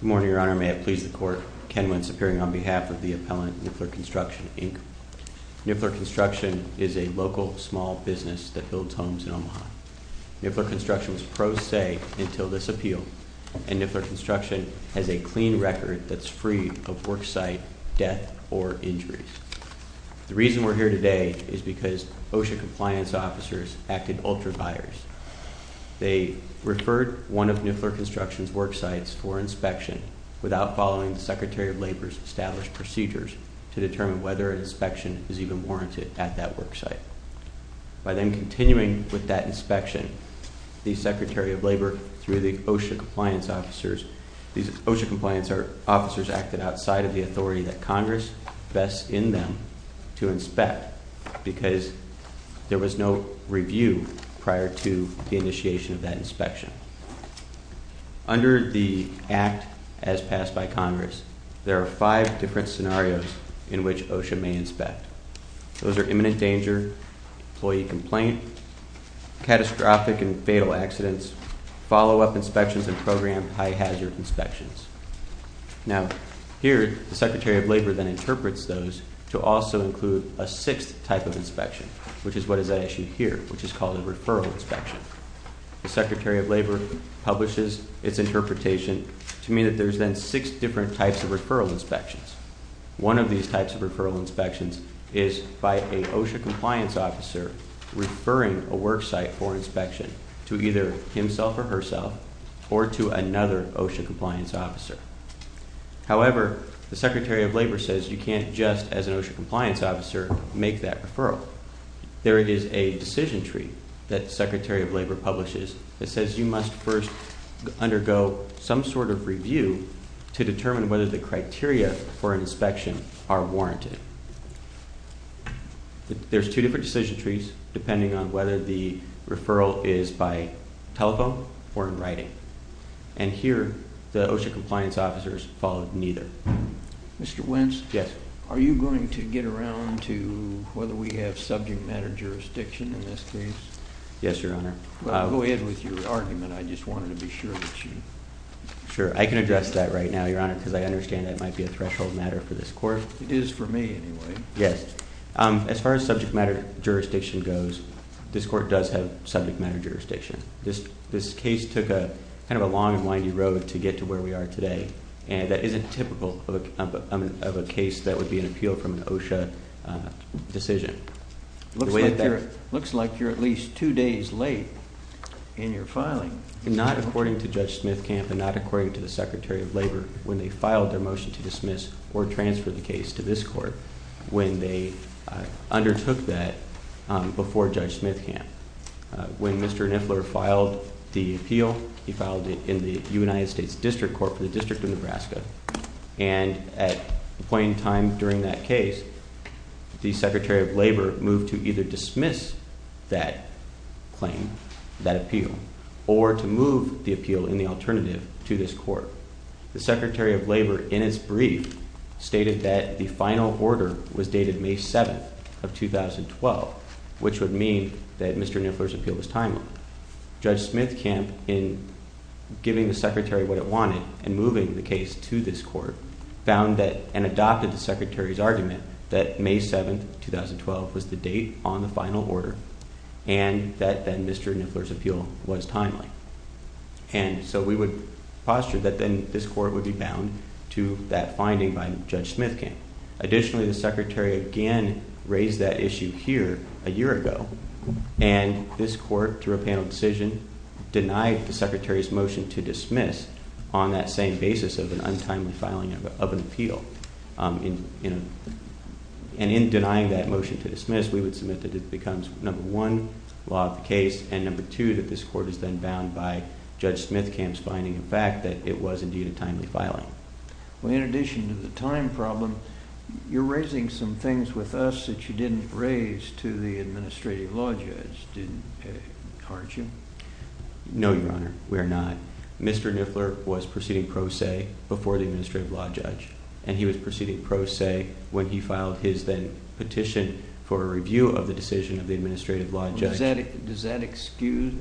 Good morning, Your Honor. May it please the Court, Ken Wentz appearing on behalf of the appellant Niffler Construction, Inc. Niffler Construction is a local small business that builds homes in Omaha. Niffler Construction was pro se until this appeal, and Niffler Construction has a clean record that's free of worksite death or injuries. The reason we're here today is because OSHA compliance officers acted ultra-vires. They referred one of Niffler Construction's worksites for inspection without following the Secretary of Labor's established procedures to determine whether an inspection is even warranted at that worksite. By then continuing with that inspection, the Secretary of Labor, through the OSHA compliance officers, these OSHA compliance officers acted outside of the authority that Congress vests in them to inspect because there was no review prior to the initiation of that inspection. Under the act as passed by Congress, there are five different scenarios in which OSHA may inspect. Those are imminent danger, employee complaint, catastrophic and fatal accidents, follow-up inspections, and programed high-hazard inspections. Now, here, the Secretary of Labor then interprets those to also include a sixth type of inspection, which is what is at issue here, which is called a referral inspection. The Secretary of Labor publishes its interpretation to mean that there's then six different types of referral inspections. One of these types of referral inspections is by an OSHA compliance officer referring a worksite for However, the Secretary of Labor says you can't just, as an OSHA compliance officer, make that referral. There is a decision tree that the Secretary of Labor publishes that says you must first undergo some sort of review to determine whether the criteria for an inspection are warranted. There's two different decision trees depending on whether the referral is by telephone or in writing. And here, the OSHA compliance officers followed neither. Mr. Wentz? Yes. Are you going to get around to whether we have subject matter jurisdiction in this case? Yes, Your Honor. Well, go ahead with your argument. I just wanted to be sure that you... Sure. I can address that right now, Your Honor, because I understand that might be a threshold matter for this court. It is for me, anyway. Yes. As far as subject matter jurisdiction goes, this court does have subject matter jurisdiction. This case took kind of a long and windy road to get to where we are today, and that isn't typical of a case that would be an appeal from an OSHA decision. It looks like you're at least two days late in your filing. Not according to Judge Smithcamp and not according to the Secretary of Labor when they filed their motion to dismiss or transfer the case to this court, when they undertook that before Judge Smithcamp. When Mr. Niffler filed the appeal, he filed it in the United States District Court for the District of Nebraska, and at the point in time during that case, the Secretary of Labor moved to either dismiss that claim, that appeal, or to move the appeal in the alternative to this court. The Secretary of Labor, in his brief, stated that the final order was dated May 7th of 2012, which would mean that Mr. Niffler's appeal was timely. Judge Smithcamp, in giving the Secretary what it wanted and moving the case to this court, found that and adopted the Secretary's argument that May 7th of 2012 was the date on the final order and that then Mr. Niffler's appeal was timely. And so we would posture that then this court would be bound to that finding by Judge Smithcamp. Additionally, the Secretary again raised that issue here a year ago, and this court, through a panel decision, denied the Secretary's motion to dismiss on that same basis of an untimely filing of an appeal. And in denying that motion to dismiss, we would submit that it becomes, number one, law of the case, and number two, that this court is then bound by Judge Smithcamp's finding of fact that it was indeed a timely filing. Well, in addition to the time problem, you're raising some things with us that you didn't raise to the Administrative Law Judge, aren't you? No, Your Honor, we are not. Mr. Niffler was proceeding pro se before the Administrative Law Judge, and he was proceeding pro se when he filed his then petition for a review of the decision of the Administrative Law Judge. Does that excuse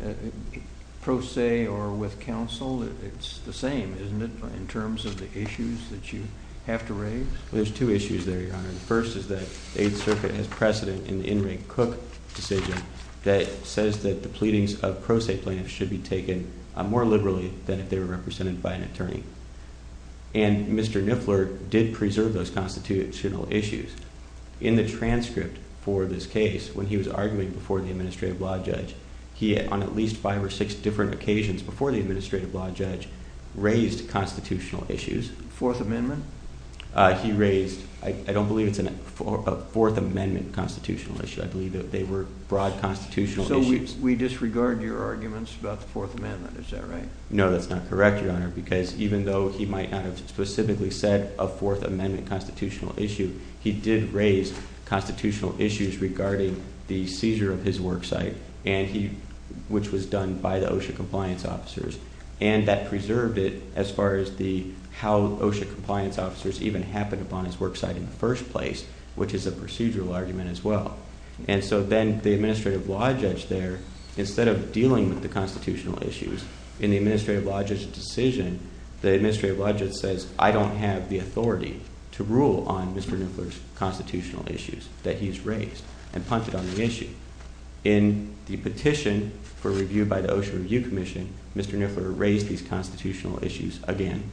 pro se or with counsel? It's the same, isn't it, in terms of the issues that you have to raise? Well, there's two issues there, Your Honor. The first is that the Eighth Circuit has precedent in the In Ring Cook decision that says that the pleadings of pro se plaintiffs should be taken more liberally than if they were represented by an attorney. And Mr. Niffler did preserve those constitutional issues. In the transcript for this case, when he was arguing before the Administrative Law Judge, he, on at least five or six different occasions before the Administrative Law Judge, raised constitutional issues. Fourth Amendment? He raised, I don't believe it's a Fourth Amendment constitutional issue. I believe that they were broad constitutional issues. So we disregard your arguments about the Fourth Amendment, is that right? No, that's not correct, Your Honor, because even though he might not have specifically said a Fourth Amendment constitutional issue, he did raise constitutional issues regarding the seizure of his worksite, which was done by the OSHA compliance officers. And that preserved it as far as how OSHA compliance officers even happened upon his worksite in the first place, which is a procedural argument as well. And so then the Administrative Law Judge there, instead of dealing with the constitutional issues, in the Administrative Law Judge's decision, the Administrative Law Judge says, I don't have the authority to rule on Mr. Niffler's constitutional issues that he has raised and punted on the issue. In the petition for review by the OSHA Review Commission, Mr. Niffler raised these constitutional issues again.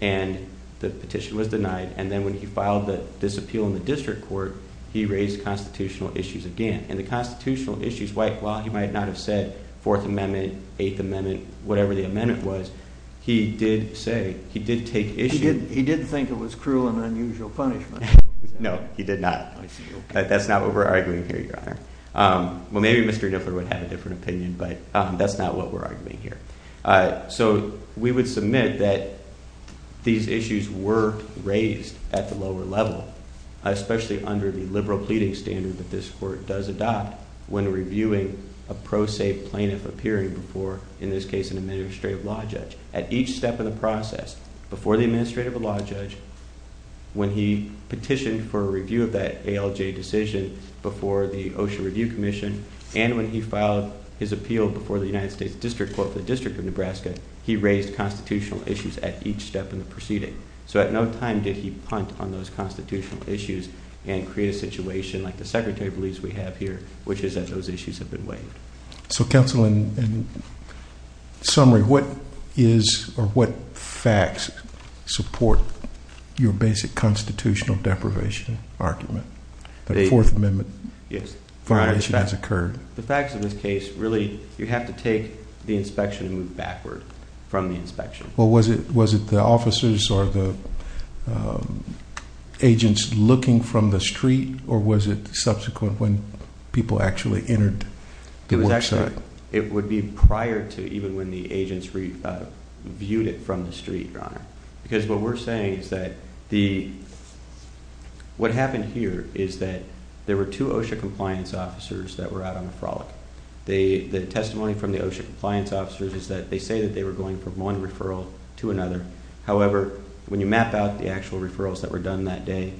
And the petition was denied. And then when he filed this appeal in the district court, he raised constitutional issues again. And the constitutional issues, while he might not have said Fourth Amendment, Eighth Amendment, whatever the amendment was, he did say, he did take issue. He did think it was cruel and unusual punishment. No, he did not. I see. That's not what we're arguing here, Your Honor. Well, maybe Mr. Niffler would have a different opinion, but that's not what we're arguing here. So we would submit that these issues were raised at the lower level, especially under the liberal pleading standard that this court does adopt when reviewing a pro se plaintiff appearing before, in this case, an Administrative Law Judge. At each step of the process, before the Administrative Law Judge, when he petitioned for a review of that ALJ decision before the OSHA Review Commission, and when he filed his appeal before the United States District Court for the District of Nebraska, he raised constitutional issues at each step in the proceeding. So at no time did he punt on those constitutional issues and create a situation like the Secretary believes we have here, which is that those issues have been waived. So, counsel, in summary, what is or what facts support your basic constitutional deprivation argument that a Fourth Amendment violation has occurred? The facts of this case, really, you have to take the inspection and move backward from the inspection. Well, was it the officers or the agents looking from the street? Or was it subsequent, when people actually entered the work site? It would be prior to even when the agents viewed it from the street, Your Honor. Because what we're saying is that what happened here is that there were two OSHA compliance officers that were out on the frolic. The testimony from the OSHA compliance officers is that they say that they were going from one referral to another. However, when you map out the actual referrals that were done that day,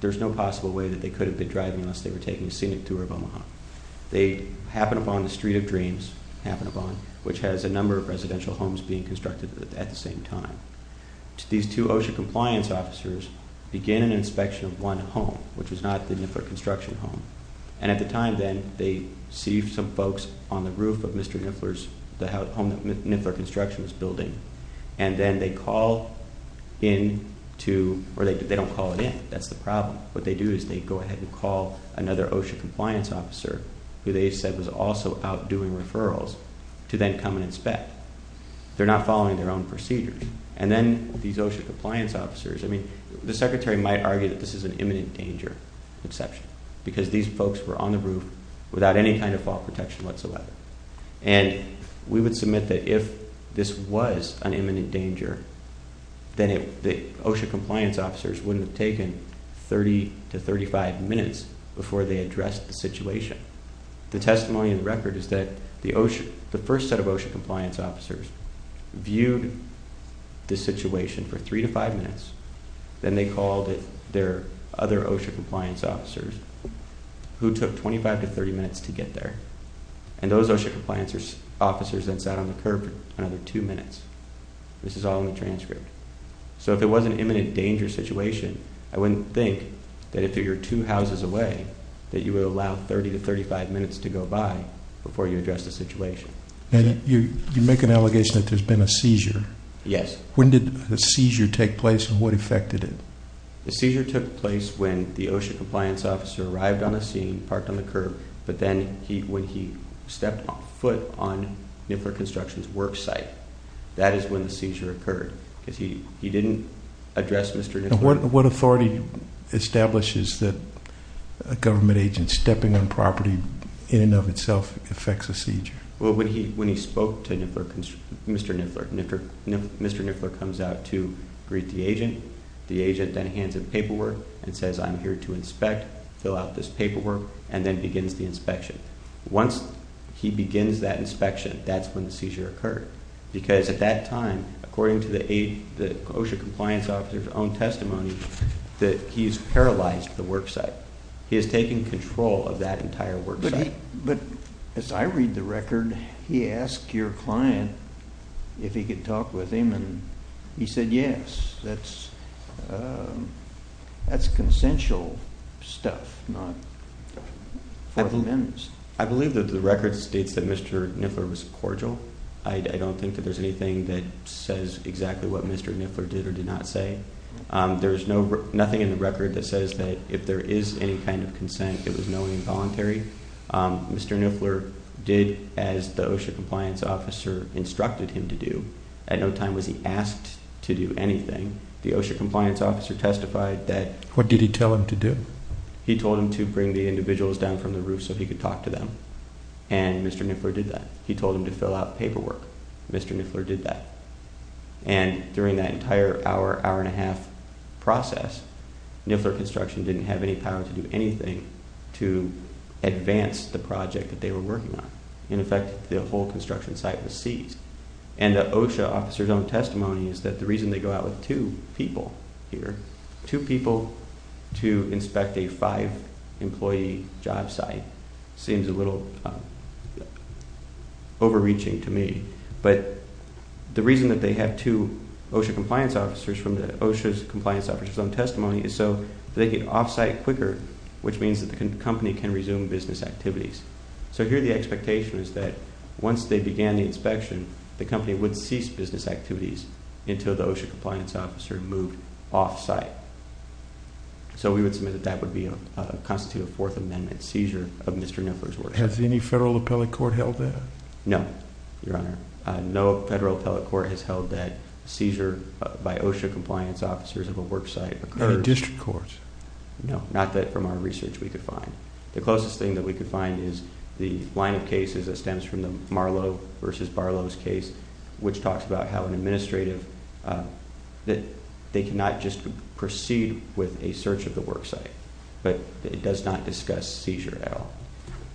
there's no possible way that they could have been driving unless they were taking a scenic tour of Omaha. They happened upon the Street of Dreams, which has a number of residential homes being constructed at the same time. These two OSHA compliance officers began an inspection of one home, which was not the Nippert Construction Home. And at the time then, they see some folks on the roof of Mr. Niffler's, the home that Niffler Construction was building. And then they call in to, or they don't call it in. That's the problem. What they do is they go ahead and call another OSHA compliance officer, who they said was also out doing referrals, to then come and inspect. They're not following their own procedure. And then these OSHA compliance officers, I mean, the Secretary might argue that this is an imminent danger exception. Because these folks were on the roof without any kind of fall protection whatsoever. And we would submit that if this was an imminent danger, then the OSHA compliance officers wouldn't have taken 30 to 35 minutes before they addressed the situation. The testimony in the record is that the first set of OSHA compliance officers viewed the situation for 3 to 5 minutes. Then they called their other OSHA compliance officers, who took 25 to 30 minutes to get there. And those OSHA compliance officers then sat on the curb for another 2 minutes. This is all in the transcript. So if it was an imminent danger situation, I wouldn't think that if you're 2 houses away, that you would allow 30 to 35 minutes to go by before you addressed the situation. And you make an allegation that there's been a seizure. Yes. When did the seizure take place and what affected it? The seizure took place when the OSHA compliance officer arrived on the scene, parked on the curb. But then when he stepped foot on Niffler Construction's work site, that is when the seizure occurred. Because he didn't address Mr. Niffler. What authority establishes that a government agent stepping on property in and of itself affects a seizure? Well, when he spoke to Mr. Niffler, Mr. Niffler comes out to greet the agent. The agent then hands him paperwork and says, I'm here to inspect, fill out this paperwork, and then begins the inspection. Once he begins that inspection, that's when the seizure occurred. Because at that time, according to the OSHA compliance officer's own testimony, that he's paralyzed the work site. He has taken control of that entire work site. But as I read the record, he asked your client if he could talk with him, and he said yes. That's consensual stuff, not four amendments. I believe that the record states that Mr. Niffler was cordial. I don't think that there's anything that says exactly what Mr. Niffler did or did not say. There's nothing in the record that says that if there is any kind of consent, it was knowingly involuntary. Mr. Niffler did as the OSHA compliance officer instructed him to do. At no time was he asked to do anything. The OSHA compliance officer testified that- What did he tell him to do? He told him to bring the individuals down from the roof so he could talk to them. And Mr. Niffler did that. He told him to fill out paperwork. Mr. Niffler did that. And during that entire hour, hour and a half process, Niffler Construction didn't have any power to do anything to advance the project that they were working on. In effect, the whole construction site was seized. And the OSHA officer's own testimony is that the reason they go out with two people here, two people to inspect a five-employee job site, seems a little overreaching to me. But the reason that they have two OSHA compliance officers from the OSHA's compliance officer's own testimony is so they get off-site quicker, which means that the company can resume business activities. So here the expectation is that once they began the inspection, the company would cease business activities until the OSHA compliance officer moved off-site. So we would submit that that would constitute a Fourth Amendment seizure of Mr. Niffler's work. Has any federal appellate court held that? No, Your Honor. No federal appellate court has held that seizure by OSHA compliance officers of a work site occurred. Or district courts? No, not that from our research we could find. The closest thing that we could find is the line of cases that stems from the Marlow v. Barlow's case, which talks about how an administrative, that they cannot just proceed with a search of the work site. But it does not discuss seizure at all.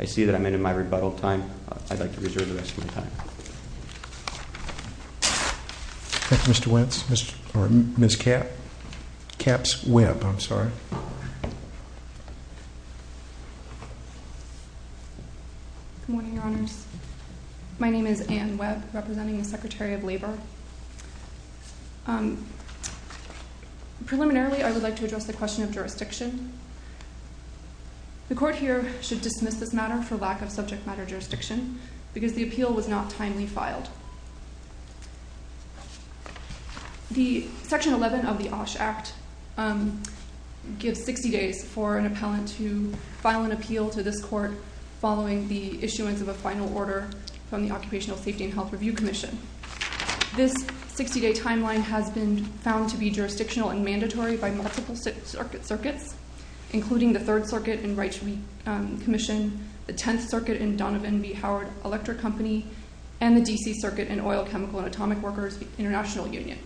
I see that I'm ending my rebuttal time. I'd like to reserve the rest of my time. Mr. Wentz, or Ms. Kapp. Kapp's web, I'm sorry. Good morning, Your Honors. My name is Anne Webb, representing the Secretary of Labor. Preliminarily, I would like to address the question of jurisdiction. The court here should dismiss this matter for lack of subject matter jurisdiction because the appeal was not timely filed. The Section 11 of the OSHA Act gives 60 days for an appellant to file an appeal to this court following the issuance of a final order from the Occupational Safety and Health Review Commission. This 60-day timeline has been found to be jurisdictional and mandatory by multiple circuits, including the Third Circuit and Wright Commission, the Tenth Circuit and Donovan v. Howard Electric Company, and the D.C. Circuit and Oil, Chemical, and Atomic Workers International Union.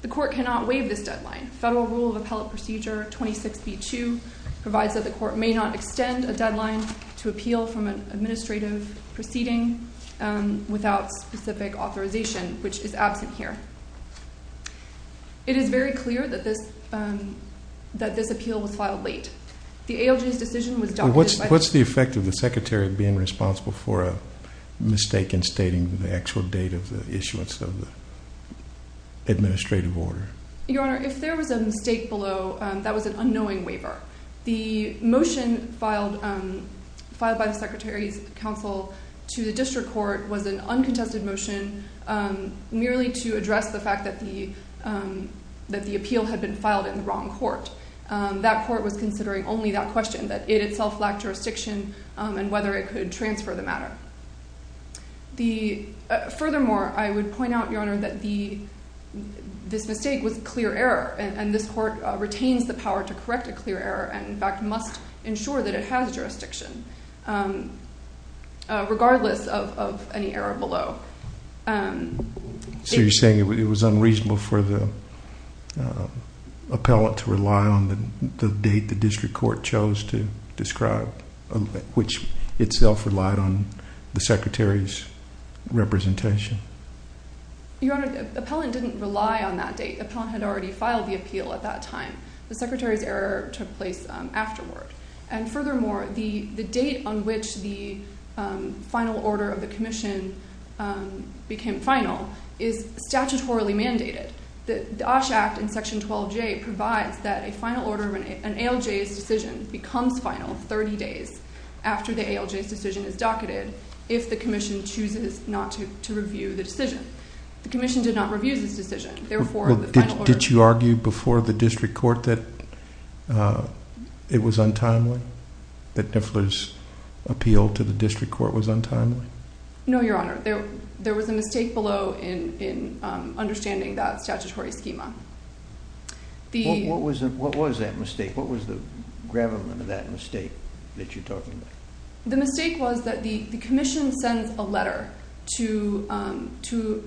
The court cannot waive this deadline. Federal Rule of Appellate Procedure 26b-2 provides that the court may not extend a deadline to appeal from an administrative proceeding without specific authorization, which is absent here. It is very clear that this appeal was filed late. What's the effect of the Secretary being responsible for a mistake in stating the actual date of the issuance of the administrative order? Your Honor, if there was a mistake below, that was an unknowing waiver. The motion filed by the Secretary's counsel to the district court was an uncontested motion merely to address the fact that the appeal had been filed in the wrong court. That court was considering only that question, that it itself lacked jurisdiction and whether it could transfer the matter. Furthermore, I would point out, Your Honor, that this mistake was clear error, and this court retains the power to correct a clear error and, in fact, must ensure that it has jurisdiction, regardless of any error below. So you're saying it was unreasonable for the appellant to rely on the date the district court chose to describe, which itself relied on the Secretary's representation? Your Honor, the appellant didn't rely on that date. The appellant had already filed the appeal at that time. The Secretary's error took place afterward. Furthermore, the date on which the final order of the commission became final is statutorily mandated. The OSH Act in Section 12J provides that a final order of an ALJ's decision becomes final 30 days after the ALJ's decision is docketed if the commission chooses not to review the decision. The commission did not review this decision. Did you argue before the district court that it was untimely, that Niffler's appeal to the district court was untimely? No, Your Honor. There was a mistake below in understanding that statutory schema. What was that mistake? What was the gravamen of that mistake that you're talking about? The mistake was that the commission sends a letter to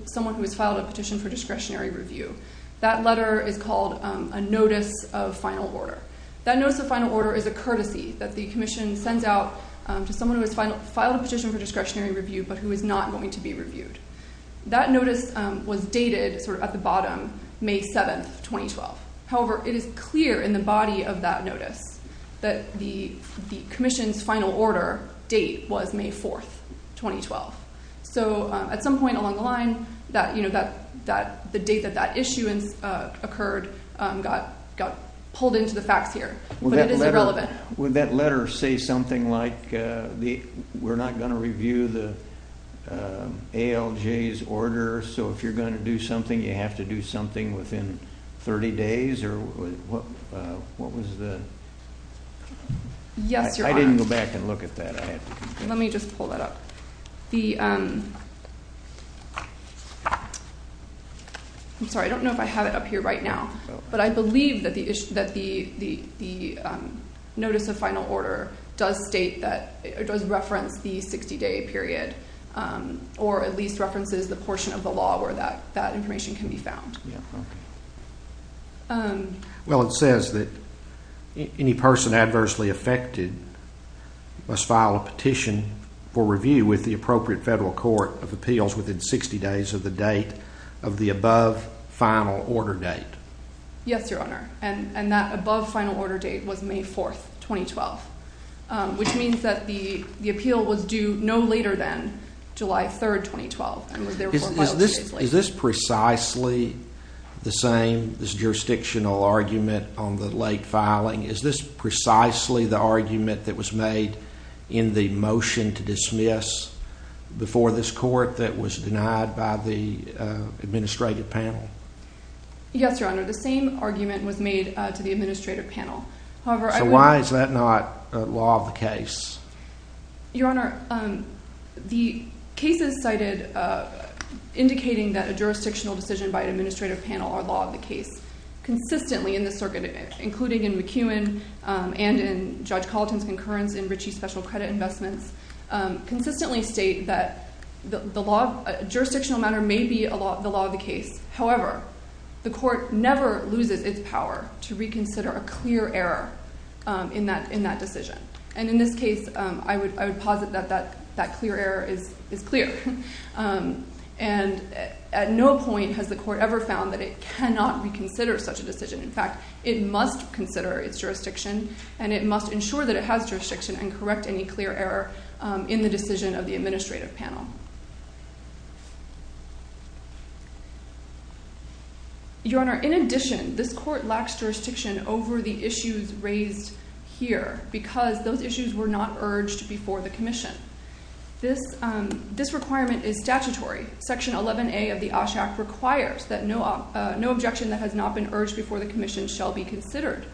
someone who has filed a petition for discretionary review. That letter is called a notice of final order. That notice of final order is a courtesy that the commission sends out to someone who has filed a petition for discretionary review but who is not going to be reviewed. That notice was dated sort of at the bottom, May 7th, 2012. However, it is clear in the body of that notice that the commission's final order date was May 4th, 2012. At some point along the line, the date that that issuance occurred got pulled into the facts here. But it is irrelevant. Would that letter say something like, we're not going to review the ALJ's order, so if you're going to do something, you have to do something within 30 days? Yes, Your Honor. I didn't go back and look at that. Let me just pull that up. I'm sorry, I don't know if I have it up here right now. But I believe that the notice of final order does state that it does reference the 60-day period or at least references the portion of the law where that information can be found. Well, it says that any person adversely affected must file a petition for review with the appropriate federal court of appeals within 60 days of the date of the above final order date. Yes, Your Honor. And that above final order date was May 4th, 2012. Which means that the appeal was due no later than July 3rd, 2012. Is this precisely the same, this jurisdictional argument on the late filing? Is this precisely the argument that was made in the motion to dismiss before this court that was denied by the administrative panel? Yes, Your Honor. The same argument was made to the administrative panel. Your Honor, the cases cited indicating that a jurisdictional decision by an administrative panel are law of the case consistently in the circuit, including in McEwen and in Judge Colleton's concurrence in Ritchie Special Credit Investments, consistently state that jurisdictional matter may be the law of the case. However, the court never loses its power to reconsider a clear error in that decision. And in this case, I would posit that that clear error is clear. And at no point has the court ever found that it cannot reconsider such a decision. In fact, it must consider its jurisdiction and it must ensure that it has jurisdiction and correct any clear error in the decision of the administrative panel. Your Honor, in addition, this court lacks jurisdiction over the issues raised here because those issues were not urged before the commission. This requirement is statutory. Section 11A of the OSHA Act requires that no objection that has not been urged before the commission shall be considered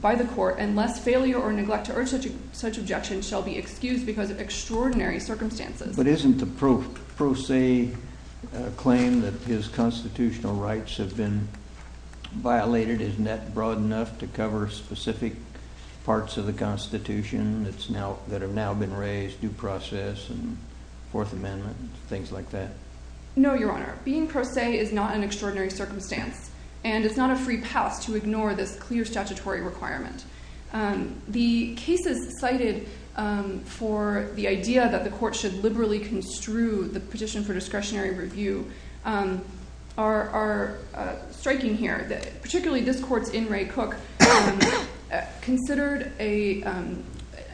by the court unless failure or neglect to urge such objection shall be excused because of extraordinary circumstances. But isn't the pro se claim that his constitutional rights have been violated? Isn't that broad enough to cover specific parts of the Constitution that have now been raised, due process and Fourth Amendment, things like that? No, Your Honor. Being pro se is not an extraordinary circumstance. And it's not a free pass to ignore this clear statutory requirement. The cases cited for the idea that the court should liberally construe the petition for discretionary review are striking here. Particularly, this court's In re Cook considered an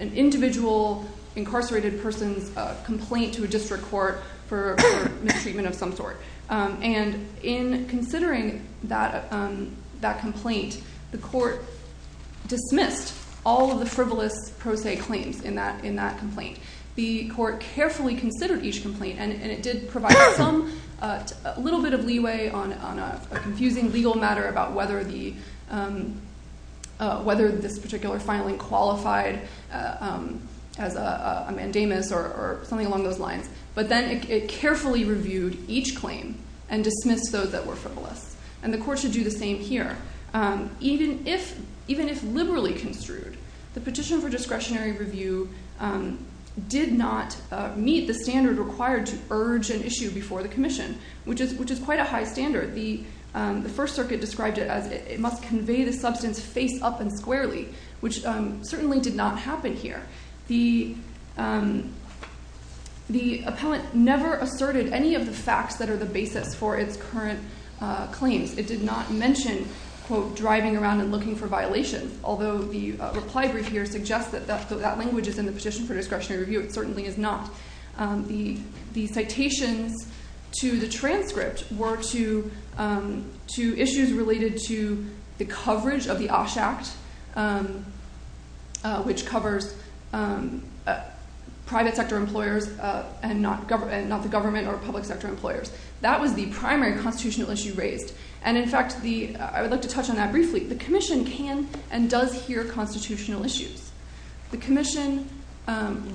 individual incarcerated person's complaint to a district court for mistreatment of some sort. And in considering that complaint, the court dismissed all of the frivolous pro se claims in that complaint. The court carefully considered each complaint, and it did provide a little bit of leeway on a confusing legal matter about whether this particular filing qualified as a mandamus or something along those lines. But then it carefully reviewed each claim and dismissed those that were frivolous. And the court should do the same here. Even if even if liberally construed, the petition for discretionary review did not meet the standard required to urge an issue before the commission, which is which is quite a high standard. The First Circuit described it as it must convey the substance face up and squarely, which certainly did not happen here. The the appellant never asserted any of the facts that are the basis for its current claims. It did not mention quote driving around and looking for violations, although the reply brief here suggests that that that language is in the petition for discretionary review. It certainly is not. The citations to the transcript were to two issues related to the coverage of the OSHA Act, which covers private sector employers and not government, not the government or public sector employers. That was the primary constitutional issue raised. And in fact, the I would like to touch on that briefly. The commission can and does hear constitutional issues. The commission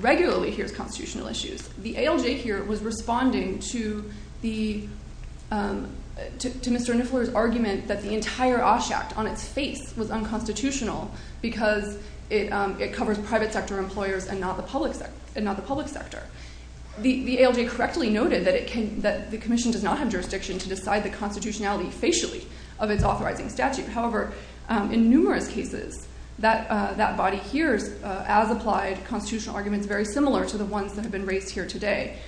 regularly hears constitutional issues. The ALJ here was responding to the to Mr. Niffler's argument that the entire OSHA act on its face was unconstitutional because it covers private sector employers and not the public sector and not the public sector. The ALJ correctly noted that it can that the commission does not have jurisdiction to decide the constitutionality facially of its authorizing statute. However, in numerous cases that that body hears as applied constitutional arguments very similar to the ones that have been raised here today.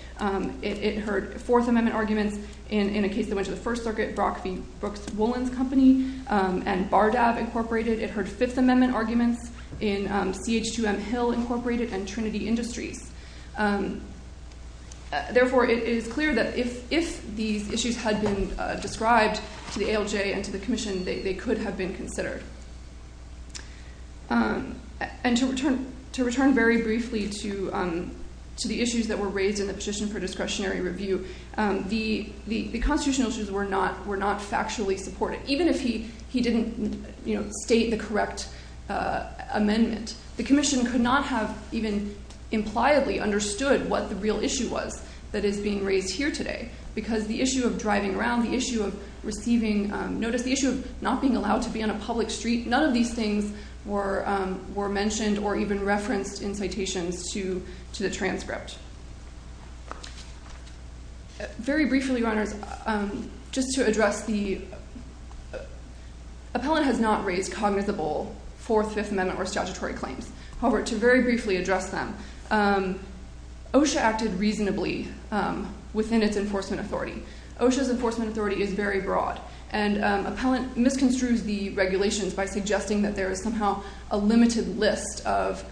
It heard Fourth Amendment arguments in a case that went to the First Circuit, Brock v. Brooks-Wolins Company and BARDAV Incorporated. It heard Fifth Amendment arguments in CH2M Hill Incorporated and Trinity Industries. Therefore, it is clear that if these issues had been described to the ALJ and to the commission, they could have been considered. And to return very briefly to the issues that were raised in the petition for discretionary review, the constitutional issues were not factually supported, even if he didn't state the correct amendment. The commission could not have even impliedly understood what the real issue was that is being raised here today. Because the issue of driving around, the issue of receiving notice, the issue of not being allowed to be on a public street, none of these things were mentioned or even referenced in citations to the transcript. Very briefly, Your Honors, just to address the – appellant has not raised cognizable Fourth, Fifth Amendment or statutory claims. However, to very briefly address them, OSHA acted reasonably within its enforcement authority. OSHA's enforcement authority is very broad. And appellant misconstrues the regulations by suggesting that there is somehow a limited list of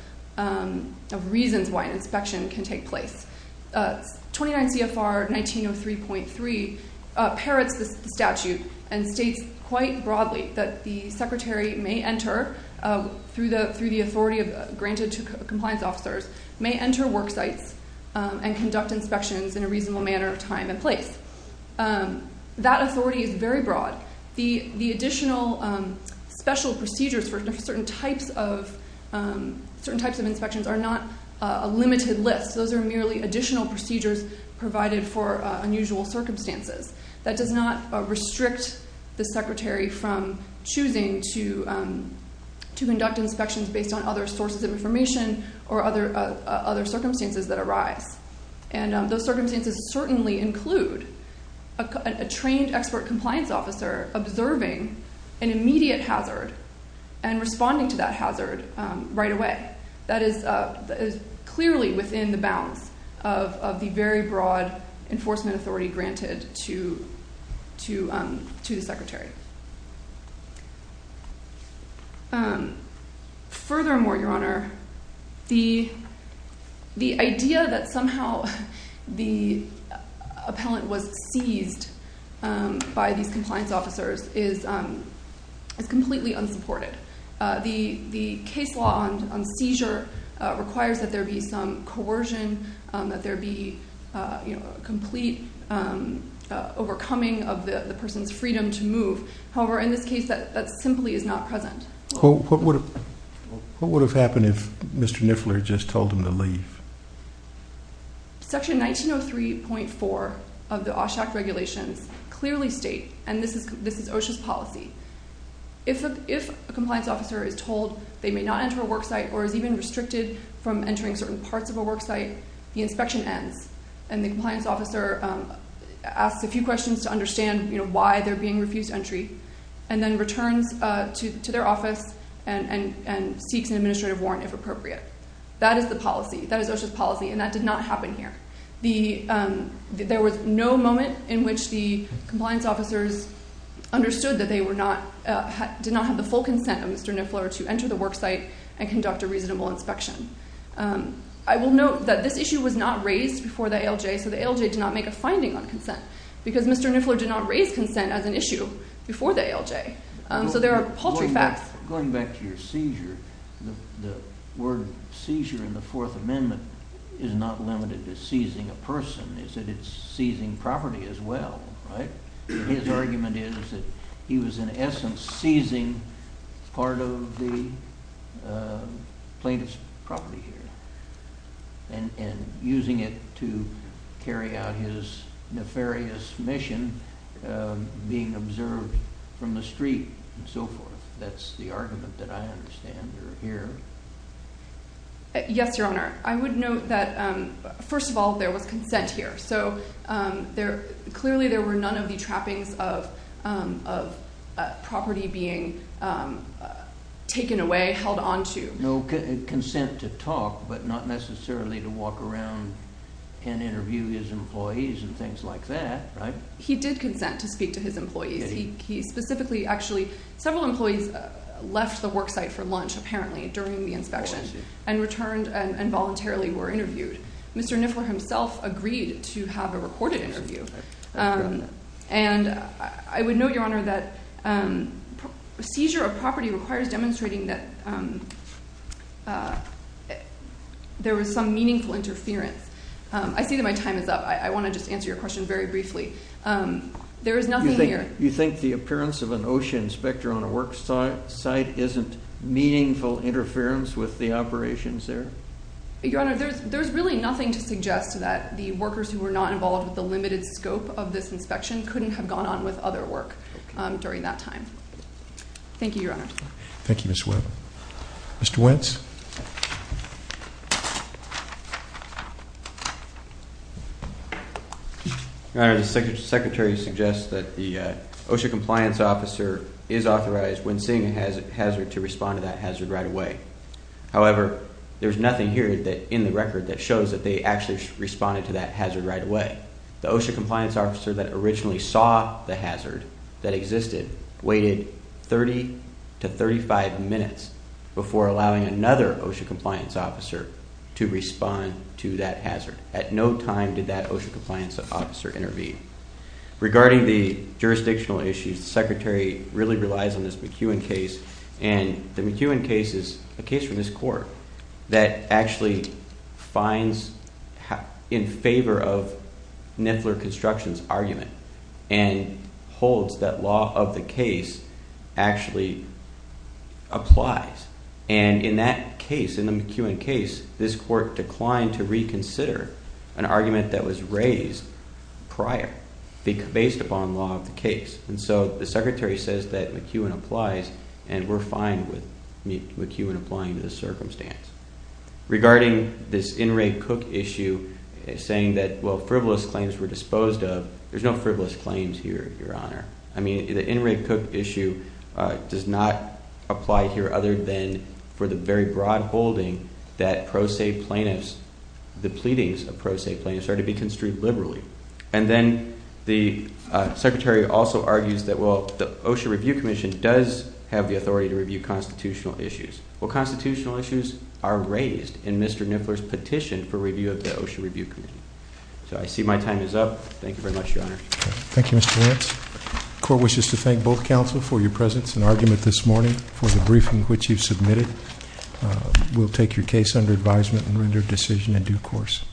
reasons why an inspection can take place. 29 CFR 1903.3 parrots the statute and states quite broadly that the secretary may enter, through the authority granted to compliance officers, may enter work sites and conduct inspections in a reasonable manner of time and place. That authority is very broad. The additional special procedures for certain types of inspections are not a limited list. Those are merely additional procedures provided for unusual circumstances. That does not restrict the secretary from choosing to conduct inspections based on other sources of information or other circumstances that arise. And those circumstances certainly include a trained expert compliance officer observing an immediate hazard and responding to that hazard right away. That is clearly within the bounds of the very broad enforcement authority granted to the secretary. Furthermore, Your Honor, the idea that somehow the appellant was seized by these compliance officers is completely unsupported. The case law on seizure requires that there be some coercion, that there be complete overcoming of the person's freedom to move. However, in this case, that simply is not present. What would have happened if Mr. Niffler just told him to leave? Section 1903.4 of the OSHA regulations clearly state, and this is OSHA's policy, if a compliance officer is told they may not enter a worksite or is even restricted from entering certain parts of a worksite, the inspection ends and the compliance officer asks a few questions to understand why they're being refused entry and then returns to their office and seeks an administrative warrant, if appropriate. That is the policy. That is OSHA's policy, and that did not happen here. There was no moment in which the compliance officers understood that they did not have the full consent of Mr. Niffler to enter the worksite and conduct a reasonable inspection. I will note that this issue was not raised before the ALJ, so the ALJ did not make a finding on consent because Mr. Niffler did not raise consent as an issue before the ALJ, so there are paltry facts. Going back to your seizure, the word seizure in the Fourth Amendment is not limited to seizing a person. It's seizing property as well, right? His argument is that he was in essence seizing part of the plaintiff's property here and using it to carry out his nefarious mission, being observed from the street and so forth. That's the argument that I understand or hear. Yes, Your Honor. I would note that, first of all, there was consent here. So clearly there were none of the trappings of property being taken away, held on to. No consent to talk, but not necessarily to walk around and interview his employees and things like that, right? He did consent to speak to his employees. He specifically actually—several employees left the worksite for lunch apparently during the inspection and returned and voluntarily were interviewed. Mr. Niffler himself agreed to have a recorded interview. And I would note, Your Honor, that seizure of property requires demonstrating that there was some meaningful interference. I see that my time is up. I want to just answer your question very briefly. There is nothing here— You think the appearance of an OSHA inspector on a worksite isn't meaningful interference with the operations there? Your Honor, there's really nothing to suggest that the workers who were not involved with the limited scope of this inspection couldn't have gone on with other work during that time. Thank you, Your Honor. Thank you, Ms. Webb. Mr. Wentz. Your Honor, the Secretary suggests that the OSHA compliance officer is authorized when seeing a hazard to respond to that hazard right away. However, there's nothing here in the record that shows that they actually responded to that hazard right away. The OSHA compliance officer that originally saw the hazard that existed waited 30 to 35 minutes before allowing another OSHA compliance officer to respond to that hazard. At no time did that OSHA compliance officer intervene. Regarding the jurisdictional issues, the Secretary really relies on this McEwen case. And the McEwen case is a case from this Court that actually finds in favor of Niffler Construction's argument and holds that law of the case actually applies. And in that case, in the McEwen case, this Court declined to reconsider an argument that was raised prior based upon law of the case. And so the Secretary says that McEwen applies and we're fine with McEwen applying to this circumstance. Regarding this In Re Cook issue, saying that, well, frivolous claims were disposed of. There's no frivolous claims here, Your Honor. I mean, the In Re Cook issue does not apply here other than for the very broad holding that pro se plaintiffs, the pleadings of pro se plaintiffs are to be construed liberally. And then the Secretary also argues that, well, the OSHA Review Commission does have the authority to review constitutional issues. Well, constitutional issues are raised in Mr. Niffler's petition for review of the OSHA Review Commission. So I see my time is up. Thank you very much, Your Honor. Thank you, Mr. Lance. The Court wishes to thank both counsel for your presence and argument this morning for the briefing which you submitted. We'll take your case under advisement and render a decision in due course.